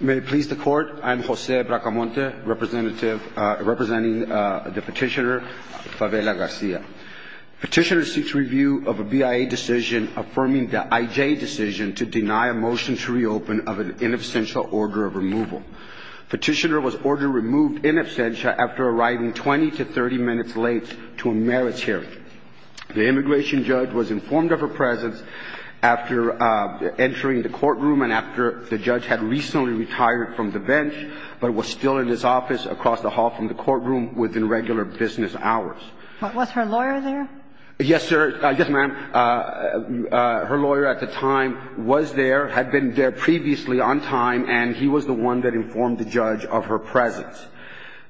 May it please the court, I am Jose Bracamonte, representing the petitioner Favela-Garcia. Petitioner seeks review of a BIA decision affirming the IJ decision to deny a motion to reopen of an in absentia order of removal. Petitioner was ordered removed in absentia after arriving 20 to 30 minutes late to a merits hearing. The immigration judge was informed of her presence after entering the courtroom and after the judge had recently retired from the bench, but was still in his office across the hall from the courtroom within regular business hours. Was her lawyer there? Yes, sir. Yes, ma'am. Her lawyer at the time was there, had been there previously on time, and he was the one that informed the judge of her presence.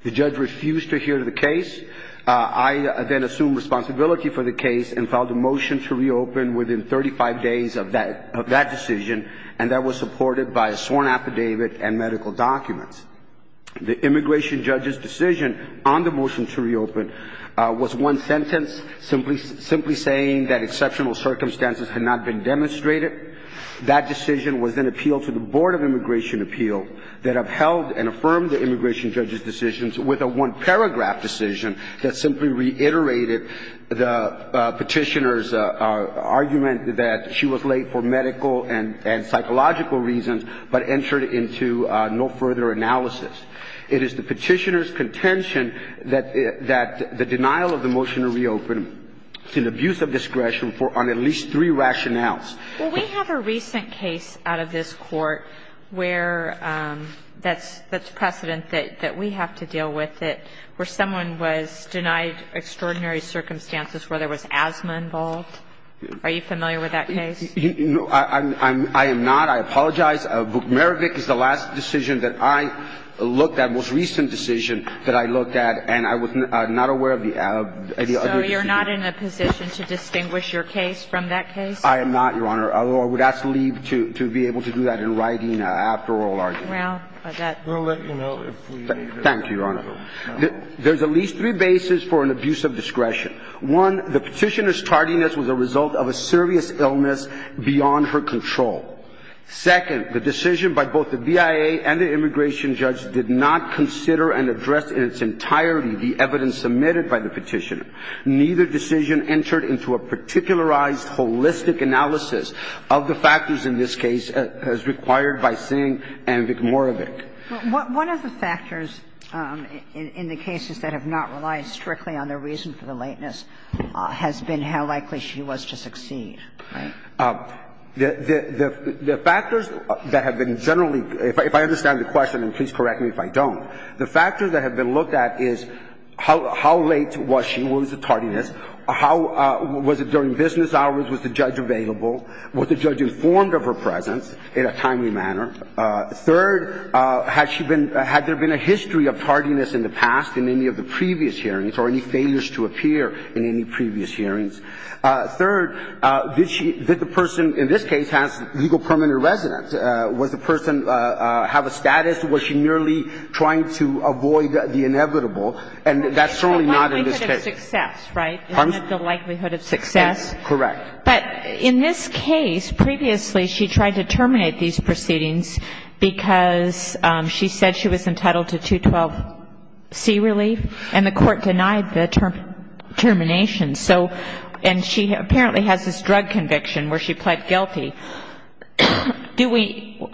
The judge refused to hear the case. I then assumed responsibility for the case and filed a motion to reopen within 35 days of that decision, and that was supported by a sworn affidavit and medical documents. The immigration judge's decision on the motion to reopen was one sentence, simply saying that exceptional circumstances had not been demonstrated. That decision was then appealed to the Board of Immigration Appeal that upheld and affirmed the immigration judge's decisions with a one-paragraph decision that simply reiterated the petitioner's argument that she was late for medical and psychological reasons, but entered into no further analysis. It is the petitioner's contention that the denial of the motion to reopen is an abuse of discretion on at least three rationales. Well, we have a recent case out of this court where that's precedent that we have to deal with, where someone was denied extraordinary circumstances where there was asthma involved. Are you familiar with that case? No, I am not. I apologize. Vukmarevic is the last decision that I looked at, most recent decision that I looked at, and I was not aware of any other decision. So you're not in a position to distinguish your case from that case? I am not, Your Honor, although I would ask Lee to be able to do that in writing after oral argument. We'll let you know if we need it. Thank you, Your Honor. There's at least three bases for an abuse of discretion. One, the petitioner's tardiness was a result of a serious illness beyond her control. Second, the decision by both the BIA and the immigration judge did not consider and address in its entirety the evidence submitted by the petitioner. Neither decision entered into a particularized holistic analysis of the factors in this case as required by Singh and Vukmarevic. One of the factors in the cases that have not relied strictly on the reason for the lateness has been how likely she was to succeed. Right. The factors that have been generally, if I understand the question, and please correct me if I don't, the factors that have been looked at is how late was she? Was it tardiness? Was it during business hours? Was the judge available? Was the judge informed of her presence in a timely manner? Third, had there been a history of tardiness in the past in any of the previous hearings or any failures to appear in any previous hearings? Third, did the person in this case have legal permanent residence? Was the person have a status? Was she merely trying to avoid the inevitable? And that's certainly not in this case. The likelihood of success, right? Pardon? The likelihood of success. Correct. But in this case, previously she tried to terminate these proceedings because she said she was entitled to 212C relief, and the court denied the termination. So and she apparently has this drug conviction where she pled guilty.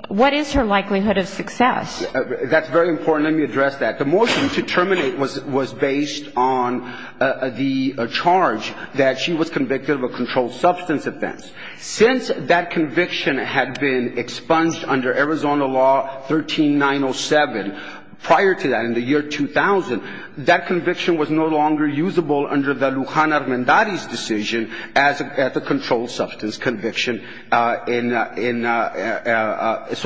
What is her likelihood of success? That's very important. Let me address that. The motion to terminate was based on the charge that she was convicted of a controlled substance offense. Since that conviction had been expunged under Arizona law 13907, prior to that, in the year 2000, that conviction was no longer usable under the Lujan Armendariz decision as a controlled substance conviction. So,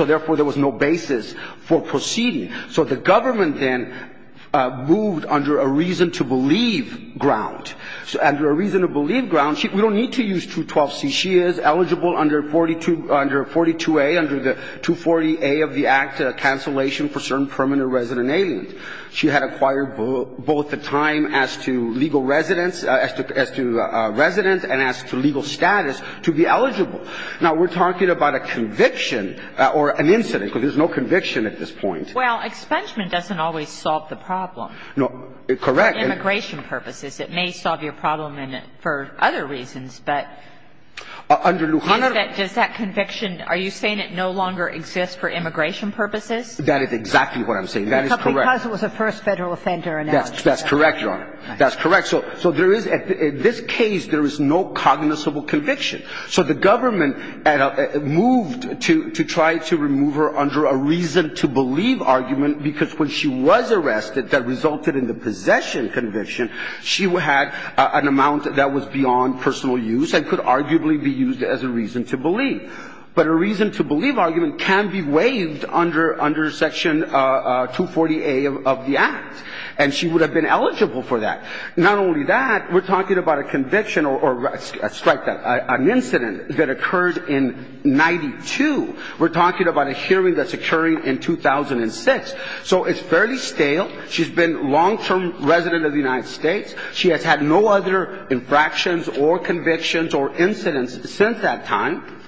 therefore, there was no basis for proceeding. So the government then moved under a reason to believe ground. Under a reason to believe ground, we don't need to use 212C. She is eligible under 42A, under the 240A of the Act, a cancellation for certain permanent resident aliens. She had acquired both the time as to legal residents, as to residents, and as to legal status to be eligible. Now, we're talking about a conviction or an incident, because there's no conviction at this point. Well, expungement doesn't always solve the problem. Correct. For immigration purposes. It may solve your problem for other reasons, but does that conviction, are you saying it no longer exists for immigration purposes? That is exactly what I'm saying. That is correct. Because it was a first Federal offender. That's correct, Your Honor. That's correct. So there is, in this case, there is no cognizable conviction. So the government moved to try to remove her under a reason to believe argument, because when she was arrested, that resulted in the possession conviction. She had an amount that was beyond personal use and could arguably be used as a reason to believe. But a reason to believe argument can be waived under Section 240A of the Act. And she would have been eligible for that. Not only that, we're talking about a conviction or, strike that, an incident that occurred in 92. We're talking about a hearing that's occurring in 2006. So it's fairly stale. She's been a long-term resident of the United States. She has had no other infractions or convictions or incidents since that time.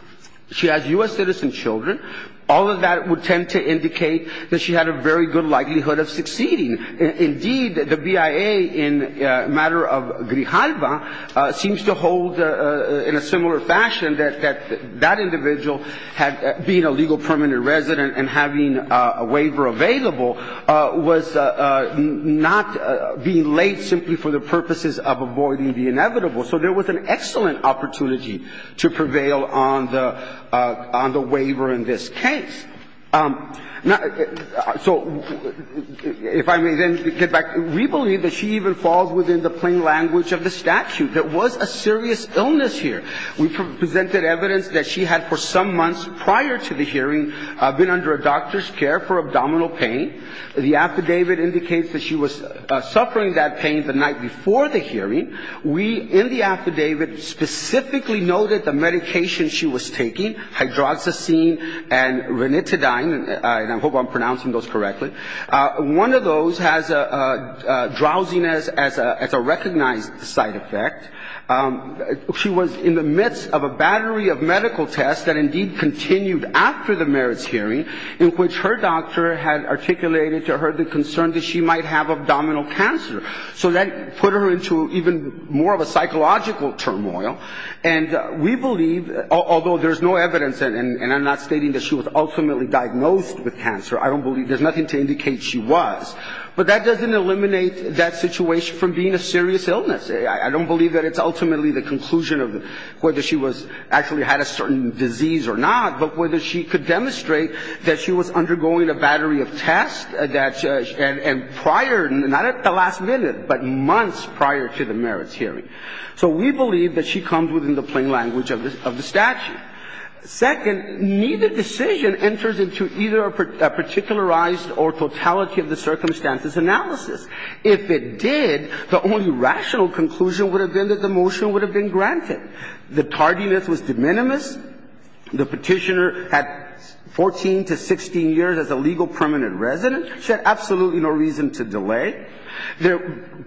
She has U.S. citizen children. All of that would tend to indicate that she had a very good likelihood of succeeding. Indeed, the BIA in a matter of Grijalva seems to hold, in a similar fashion, that that individual being a legal permanent resident and having a waiver available was not being laid simply for the purposes of avoiding the inevitable. So there was an excellent opportunity to prevail on the waiver in this case. So if I may then get back. We believe that she even falls within the plain language of the statute. There was a serious illness here. We presented evidence that she had, for some months prior to the hearing, been under a doctor's care for abdominal pain. The affidavit indicates that she was suffering that pain the night before the hearing. We, in the affidavit, specifically noted the medication she was taking, hydroxycine and ranitidine, and I hope I'm pronouncing those correctly. One of those has a drowsiness as a recognized side effect. She was in the midst of a battery of medical tests that indeed continued after the merits hearing, in which her doctor had articulated to her the concern that she might have abdominal cancer. So that put her into even more of a psychological turmoil. And we believe, although there's no evidence, and I'm not stating that she was ultimately diagnosed with cancer. I don't believe there's nothing to indicate she was. But that doesn't eliminate that situation from being a serious illness. I don't believe that it's ultimately the conclusion of whether she was actually had a certain disease or not, but whether she could demonstrate that she was undergoing a battery of tests, and prior, not at the last minute, but months prior to the merits hearing. So we believe that she comes within the plain language of the statute. Second, neither decision enters into either a particularized or totality of the circumstances analysis. If it did, the only rational conclusion would have been that the motion would have been granted. The tardiness was de minimis. The petitioner had 14 to 16 years as a legal permanent resident. She had absolutely no reason to delay.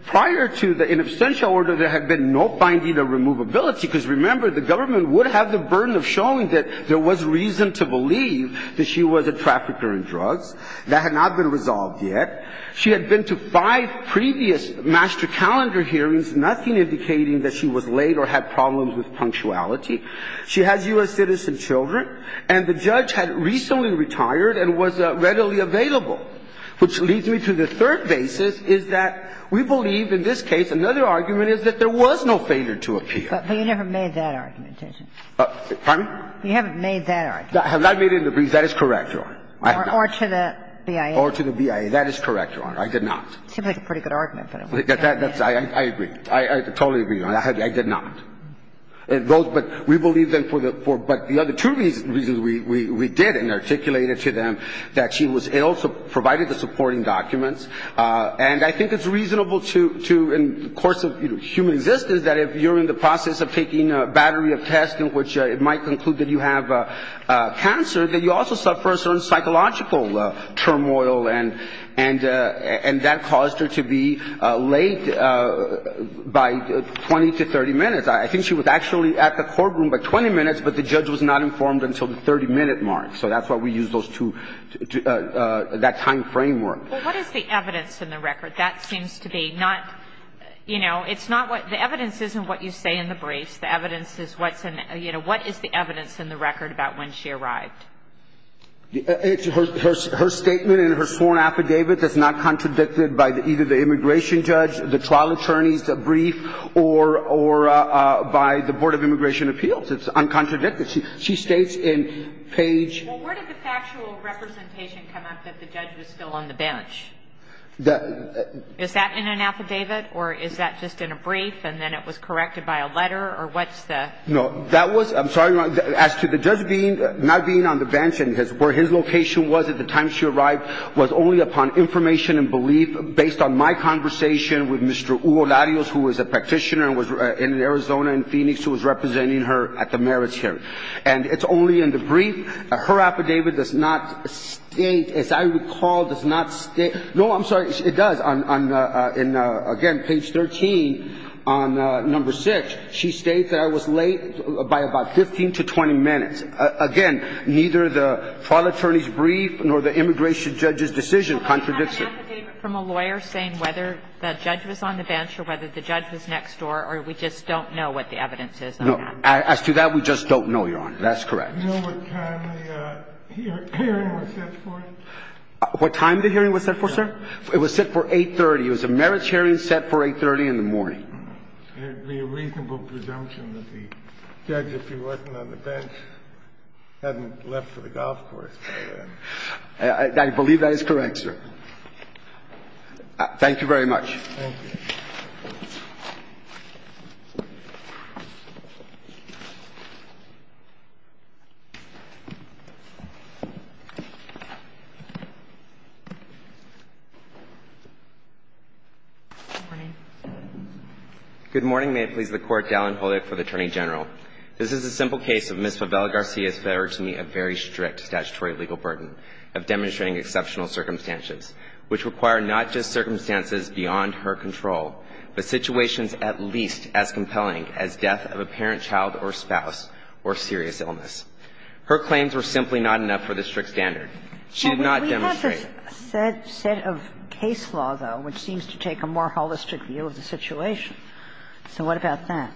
Prior to the in absentia order, there had been no finding of removability, because remember, the government would have the burden of showing that there was reason to believe that she was a trafficker in drugs. That had not been resolved yet. She had been to five previous master calendar hearings, nothing indicating that she was late or had problems with punctuality. She has U.S. citizen children. And the judge had recently retired and was readily available, which leads me to the third basis, is that we believe in this case another argument is that there was no failure to appeal. But you never made that argument, did you? Pardon me? You haven't made that argument. I have not made it in the briefs. That is correct, Your Honor. Or to the BIA. Or to the BIA. That is correct, Your Honor. I did not. Seems like a pretty good argument. I agree. I totally agree, Your Honor. I did not. But we believe that for the other two reasons we did and articulated to them that she was ill, provided the supporting documents. And I think it's reasonable to, in the course of human existence, that if you're in the process of taking a battery of tests in which it might conclude that you have been exposed to some sort of psychological turmoil and that caused her to be late by 20 to 30 minutes. I think she was actually at the courtroom by 20 minutes, but the judge was not informed until the 30-minute mark. So that's why we used those two, that time framework. Well, what is the evidence in the record? That seems to be not, you know, it's not what the evidence is in what you say in the briefs. The evidence is what's in, you know, what is the evidence in the record about when she arrived? It's her statement in her sworn affidavit that's not contradicted by either the immigration judge, the trial attorney's brief, or by the Board of Immigration Appeals. It's uncontradicted. She states in page ---- Well, where did the factual representation come up that the judge was still on the bench? Is that in an affidavit, or is that just in a brief and then it was corrected by a letter, or what's the ---- No, that was, I'm sorry, Your Honor, as to the judge being, not being on the bench and his, where his location was at the time she arrived was only upon information and belief based on my conversation with Mr. Hugo Larios, who is a practitioner and was in Arizona, in Phoenix, who was representing her at the merits hearing. And it's only in the brief. Her affidavit does not state, as I recall, does not state, no, I'm sorry, it does not state that I was late by about 15 to 20 minutes. Again, neither the trial attorney's brief nor the immigration judge's decision contradicts it. I have an affidavit from a lawyer saying whether the judge was on the bench or whether the judge was next door, or we just don't know what the evidence is on that. No. As to that, we just don't know, Your Honor. That's correct. Do you know what time the hearing was set for? What time the hearing was set for, sir? It was set for 8.30. It was a merits hearing set for 8.30 in the morning. It would be a reasonable presumption that the judge, if he wasn't on the bench, hadn't left for the golf course by then. I believe that is correct, sir. Thank you very much. Thank you. Good morning. Good morning. May it please the Court. Dallin Holdick for the Attorney General. This is a simple case of Ms. Favela-Garcia's failure to meet a very strict statutory legal burden of demonstrating exceptional circumstances, which require not just circumstances beyond her control, but situations at least as compelling as death of a parent, child, or spouse, or serious illness. Her claims were simply not enough for the strict standard. She did not demonstrate. But there is a set of case law, though, which seems to take a more holistic view of the situation. So what about that?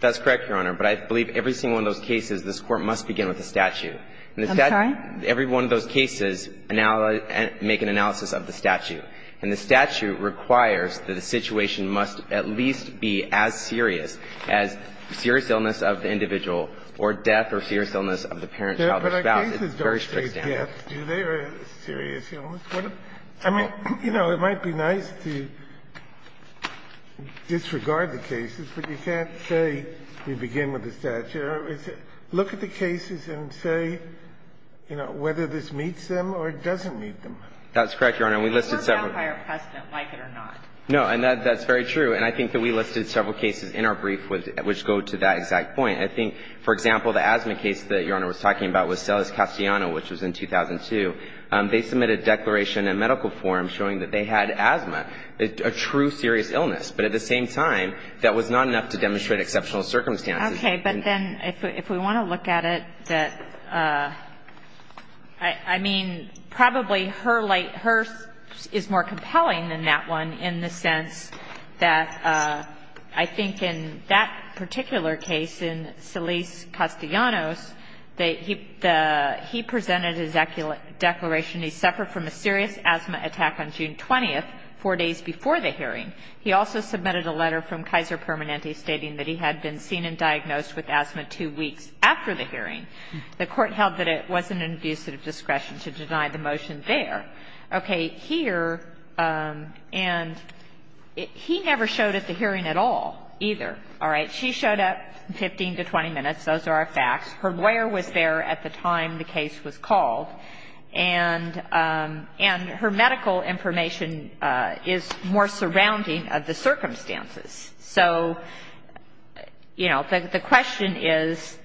That's correct, Your Honor. But I believe every single one of those cases, this Court must begin with a statute. I'm sorry? Every one of those cases make an analysis of the statute. And the statute requires that the situation must at least be as serious as serious illness of the individual or death or serious illness of the parent, child, or spouse. It's very strict standard. The statute requires that the individual or the parent, child, or spouse, or death of the parent, child, or spouse, or death, or serious illness. I mean, you know, it might be nice to disregard the cases, but you can't say we begin with the statute. Look at the cases and say, you know, whether this meets them or doesn't meet them. That's correct, Your Honor. And we listed several of them. But you're a vampire precedent, like it or not. No. And that's very true. And I think that we listed several cases in our brief which go to that exact point. I think, for example, the asthma case that Your Honor was talking about was Celes Castellano, which was in 2002. They submitted a declaration in medical form showing that they had asthma, a true serious illness. But at the same time, that was not enough to demonstrate exceptional circumstances. Okay. But then if we want to look at it, I mean, probably her is more compelling than that one in the sense that I think in that particular case in Celes Castellano's, he presented his declaration, he suffered from a serious asthma attack on June 20th, four days before the hearing. He also submitted a letter from Kaiser Permanente stating that he had been seen and diagnosed with asthma two weeks after the hearing. The Court held that it wasn't an abuse of discretion to deny the motion there. Okay. Here, and he never showed at the hearing at all either. All right. She showed up 15 to 20 minutes. Those are our facts. Her lawyer was there at the time the case was called. And her medical information is more surrounding of the circumstances. So, you know, the question is,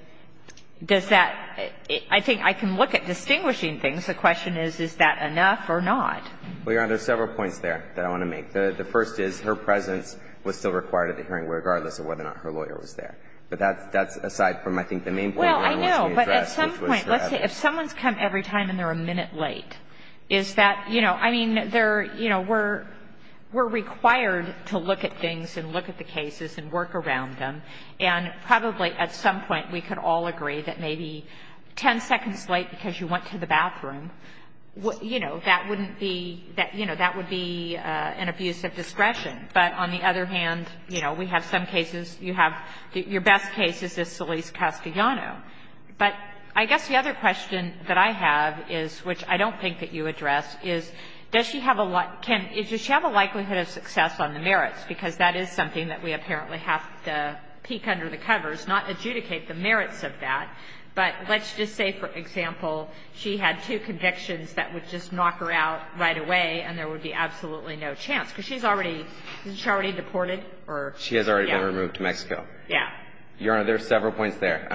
does that – I think I can look at distinguishing things. The question is, is that enough or not? Well, Your Honor, there are several points there that I want to make. The first is her presence was still required at the hearing regardless of whether or not her lawyer was there. But that's aside from I think the main point Your Honor wants me to address, which was her evidence. Well, I know. Is that, you know, I mean, they're, you know, we're required to look at things and look at the cases and work around them. And probably at some point we could all agree that maybe 10 seconds late because you went to the bathroom, you know, that wouldn't be, you know, that would be an abuse of discretion. But on the other hand, you know, we have some cases you have – your best case is Celise Castellano. But I guess the other question that I have is, which I don't think that you address, is does she have a – Ken, does she have a likelihood of success on the merits? Because that is something that we apparently have to peek under the covers, not adjudicate the merits of that. But let's just say, for example, she had two convictions that would just knock her out right away and there would be absolutely no chance. Because she's already – isn't she already deported? She has already been removed to Mexico. Yeah. Your Honor, there are several points there.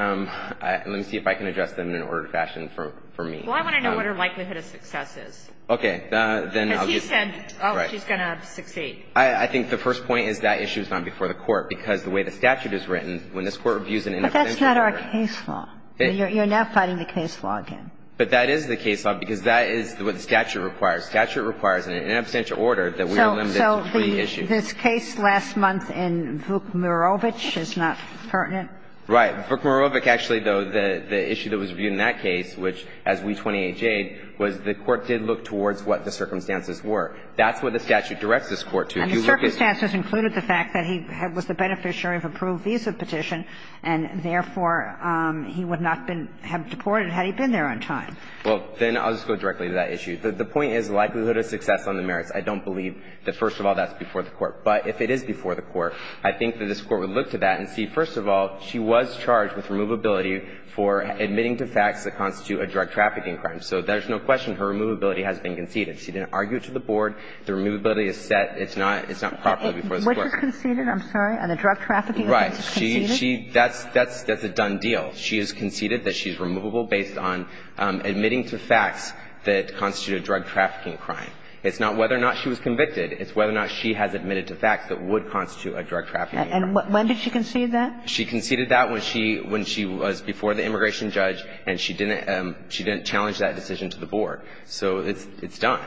Let me see if I can address them in an ordered fashion for me. Well, I want to know what her likelihood of success is. Okay. Because she said, oh, she's going to succeed. I think the first point is that issue is not before the Court, because the way the statute is written, when this Court reviews an inabstantial order – But that's not our case law. You're now fighting the case law again. But that is the case law, because that is what the statute requires. The statute requires an inabstantial order that we are limited to for the issue. This case last month in Vukmarovic is not pertinent? Right. Vukmarovic, actually, though, the issue that was reviewed in that case, which, as we 20-H aid, was the Court did look towards what the circumstances were. That's what the statute directs this Court to. And the circumstances included the fact that he was the beneficiary of approved visa petition, and therefore, he would not have been deported had he been there on time. Well, then I'll just go directly to that issue. The point is likelihood of success on the merits. I don't believe that, first of all, that's before the Court. But if it is before the Court, I think that this Court would look to that and see, first of all, she was charged with removability for admitting to facts that constitute a drug trafficking crime. So there's no question her removability has been conceded. She didn't argue it to the Board. The removability is set. It's not properly before this Court. Which is conceded, I'm sorry? On the drug trafficking offense is conceded? Right. That's a done deal. She has conceded that she's removable based on admitting to facts that constitute a drug trafficking crime. It's not whether or not she was convicted. It's whether or not she has admitted to facts that would constitute a drug trafficking crime. And when did she concede that? She conceded that when she was before the immigration judge and she didn't challenge that decision to the Board. So it's done.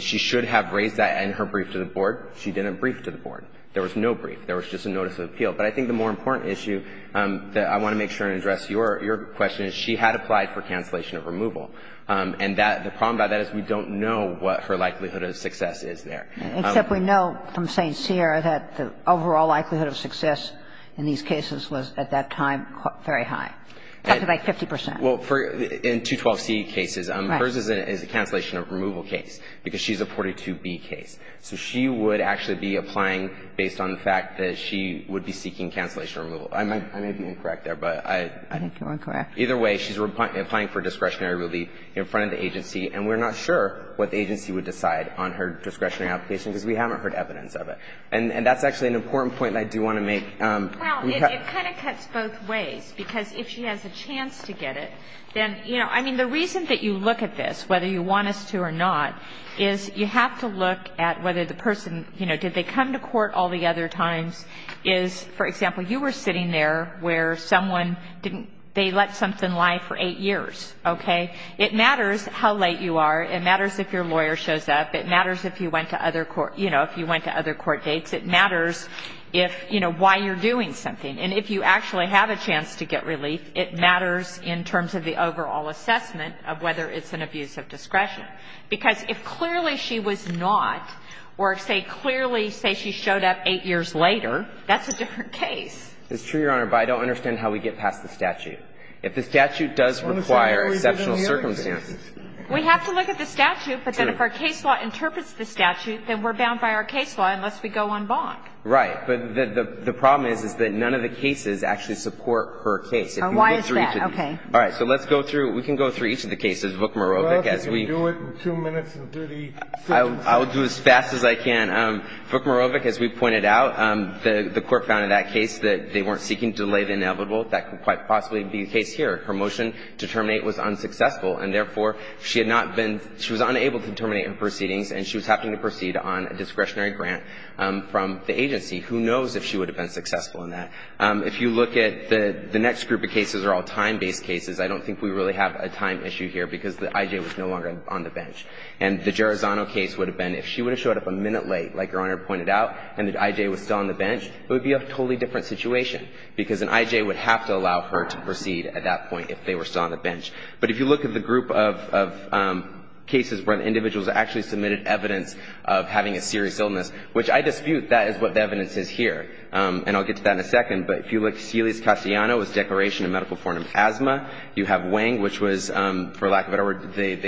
She should have raised that in her brief to the Board. She didn't brief to the Board. There was no brief. There was just a notice of appeal. But I think the more important issue that I want to make sure and address your question is she had applied for cancellation of removal. And that the problem about that is we don't know what her likelihood of success is there. Except we know from St. Cyr that the overall likelihood of success in these cases was at that time very high, something like 50 percent. Well, in 212C cases. Right. Hers is a cancellation of removal case because she's a 42B case. So she would actually be applying based on the fact that she would be seeking cancellation of removal. I may be incorrect there, but I think you're incorrect. Either way, she's applying for discretionary relief in front of the agency. And we're not sure what the agency would decide on her discretionary application because we haven't heard evidence of it. And that's actually an important point that I do want to make. Well, it kind of cuts both ways. Because if she has a chance to get it, then, you know, I mean, the reason that you look at this, whether you want us to or not, is you have to look at whether the person, you know, did they come to court all the other times is, for example, you were sitting there where someone didn't they let something lie for eight years. Okay. It matters how late you are. It matters if your lawyer shows up. It matters if you went to other court, you know, if you went to other court dates. It matters if, you know, why you're doing something. And if you actually have a chance to get relief, it matters in terms of the overall assessment of whether it's an abuse of discretion. Because if clearly she was not or say clearly say she showed up eight years later, that's a different case. It's true, Your Honor. But I don't understand how we get past the statute. If the statute does require exceptional circumstances. We have to look at the statute, but then if our case law interprets the statute, then we're bound by our case law unless we go en banc. Right. But the problem is, is that none of the cases actually support her case. Why is that? Okay. All right. So let's go through. We can go through each of the cases, Vukmarovic, as we do it in two minutes. I will do it as fast as I can. Vukmarovic, as we pointed out, the Court found in that case that they weren't seeking to delay the inevitable. That could quite possibly be the case here. Her motion to terminate was unsuccessful. And therefore, she had not been – she was unable to terminate her proceedings and she was having to proceed on a discretionary grant from the agency. Who knows if she would have been successful in that. If you look at the next group of cases are all time-based cases. I don't think we really have a time issue here because the I.J. was no longer on the bench. And the Gerizano case would have been, if she would have showed up a minute late, like Your Honor pointed out, and the I.J. was still on the bench, it would be a totally different situation. Because an I.J. would have to allow her to proceed at that point if they were still on the bench. But if you look at the group of cases where individuals actually submitted evidence of having a serious illness, which I dispute that is what the evidence is here. And I'll get to that in a second. But if you look at Celia Castellano's declaration of medical form of asthma, you have they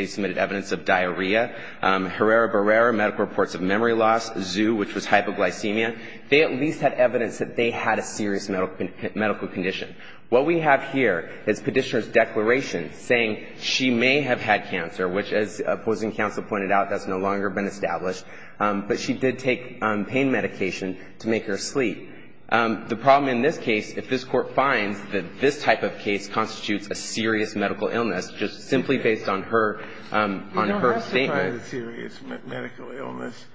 submitted evidence of diarrhea. Herrera-Berrera, medical reports of memory loss. Zhu, which was hypoglycemia. They at least had evidence that they had a serious medical condition. What we have here is Petitioner's declaration saying she may have had cancer, which, as opposing counsel pointed out, that's no longer been established. But she did take pain medication to make her sleep. The problem in this case, if this Court finds that this type of case constitutes a serious medical illness, just simply based on her statement. You don't have to find a serious medical illness.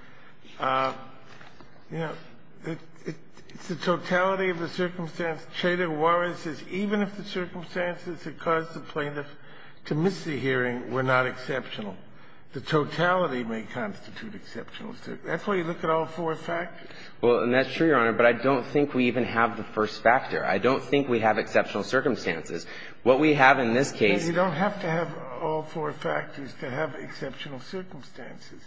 You know, it's the totality of the circumstance. Cheda Juarez says even if the circumstances that caused the plaintiff to miss the hearing were not exceptional, the totality may constitute exceptional. That's why you look at all four factors. Well, and that's true, Your Honor, but I don't think we even have the first factor. I don't think we have exceptional circumstances. What we have in this case. You don't have to have all four factors to have exceptional circumstances.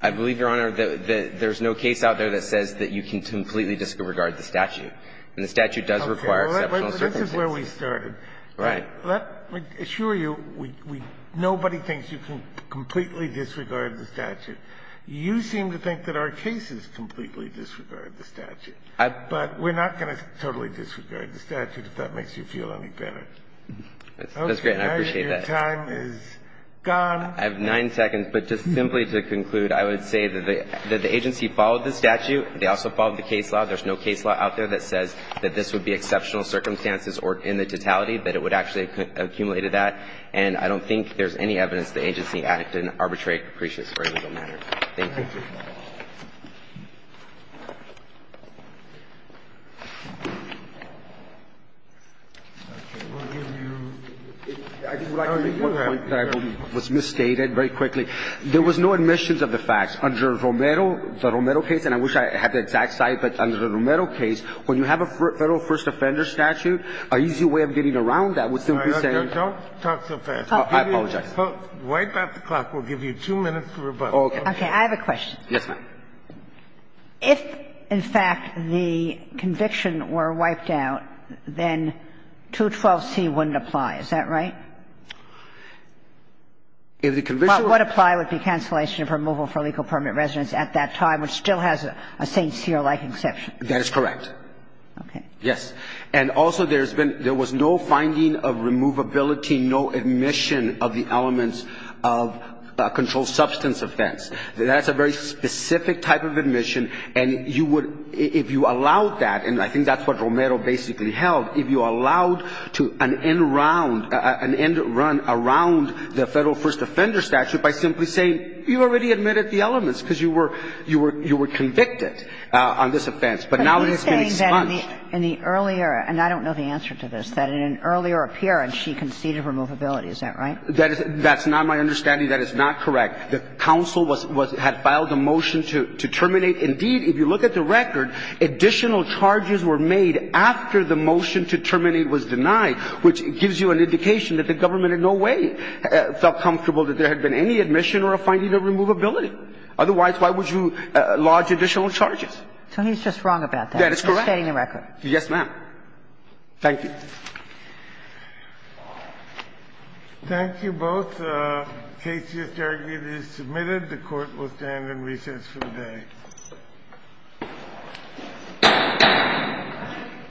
I believe, Your Honor, that there's no case out there that says that you can completely disregard the statute. And the statute does require exceptional circumstances. Okay. Well, this is where we started. Right. Let me assure you, nobody thinks you can completely disregard the statute. You seem to think that our cases completely disregard the statute. But we're not going to totally disregard the statute if that makes you feel any better. That's great, and I appreciate that. Okay. Now your time is gone. I have nine seconds. But just simply to conclude, I would say that the agency followed the statute. They also followed the case law. There's no case law out there that says that this would be exceptional circumstances or in the totality, that it would actually have accumulated that. And I don't think there's any evidence the agency acted in an arbitrary, capricious or illegal manner. Thank you. I would like to make one point that was misstated very quickly. There was no admissions of the facts. Under Romero, the Romero case, and I wish I had the exact site, but under the Romero case, when you have a Federal first offender statute, an easy way of getting around that would simply be saying don't talk so fast. I apologize. Right about the clock, we'll give you two minutes for rebuttal. Okay. I have a question. Yes, ma'am. If, in fact, the conviction were wiped out, then 212C wouldn't apply. Is that right? If the conviction were wiped out. What would apply would be cancellation of removal for illegal permanent residence at that time, which still has a St. Cyr-like exception. That is correct. Okay. Yes. And also there's been no finding of removability, no admission of the elements of a controlled substance offense. That's a very specific type of admission. And you would, if you allowed that, and I think that's what Romero basically held, if you allowed to an end round, an end run around the Federal first offender statute by simply saying you already admitted the elements because you were convicted on this offense, but now it has been expunged. But are you saying that in the earlier, and I don't know the answer to this, that in an earlier appearance she conceded removability. Is that right? That's not my understanding. That is not correct. The counsel had filed a motion to terminate. Indeed, if you look at the record, additional charges were made after the motion to terminate was denied, which gives you an indication that the government in no way felt comfortable that there had been any admission or a finding of removability. Otherwise, why would you lodge additional charges? So he's just wrong about that. That is correct. He's stating the record. Yes, ma'am. Thank you. Thank you both. The case is submitted. The court will stand in recess for the day.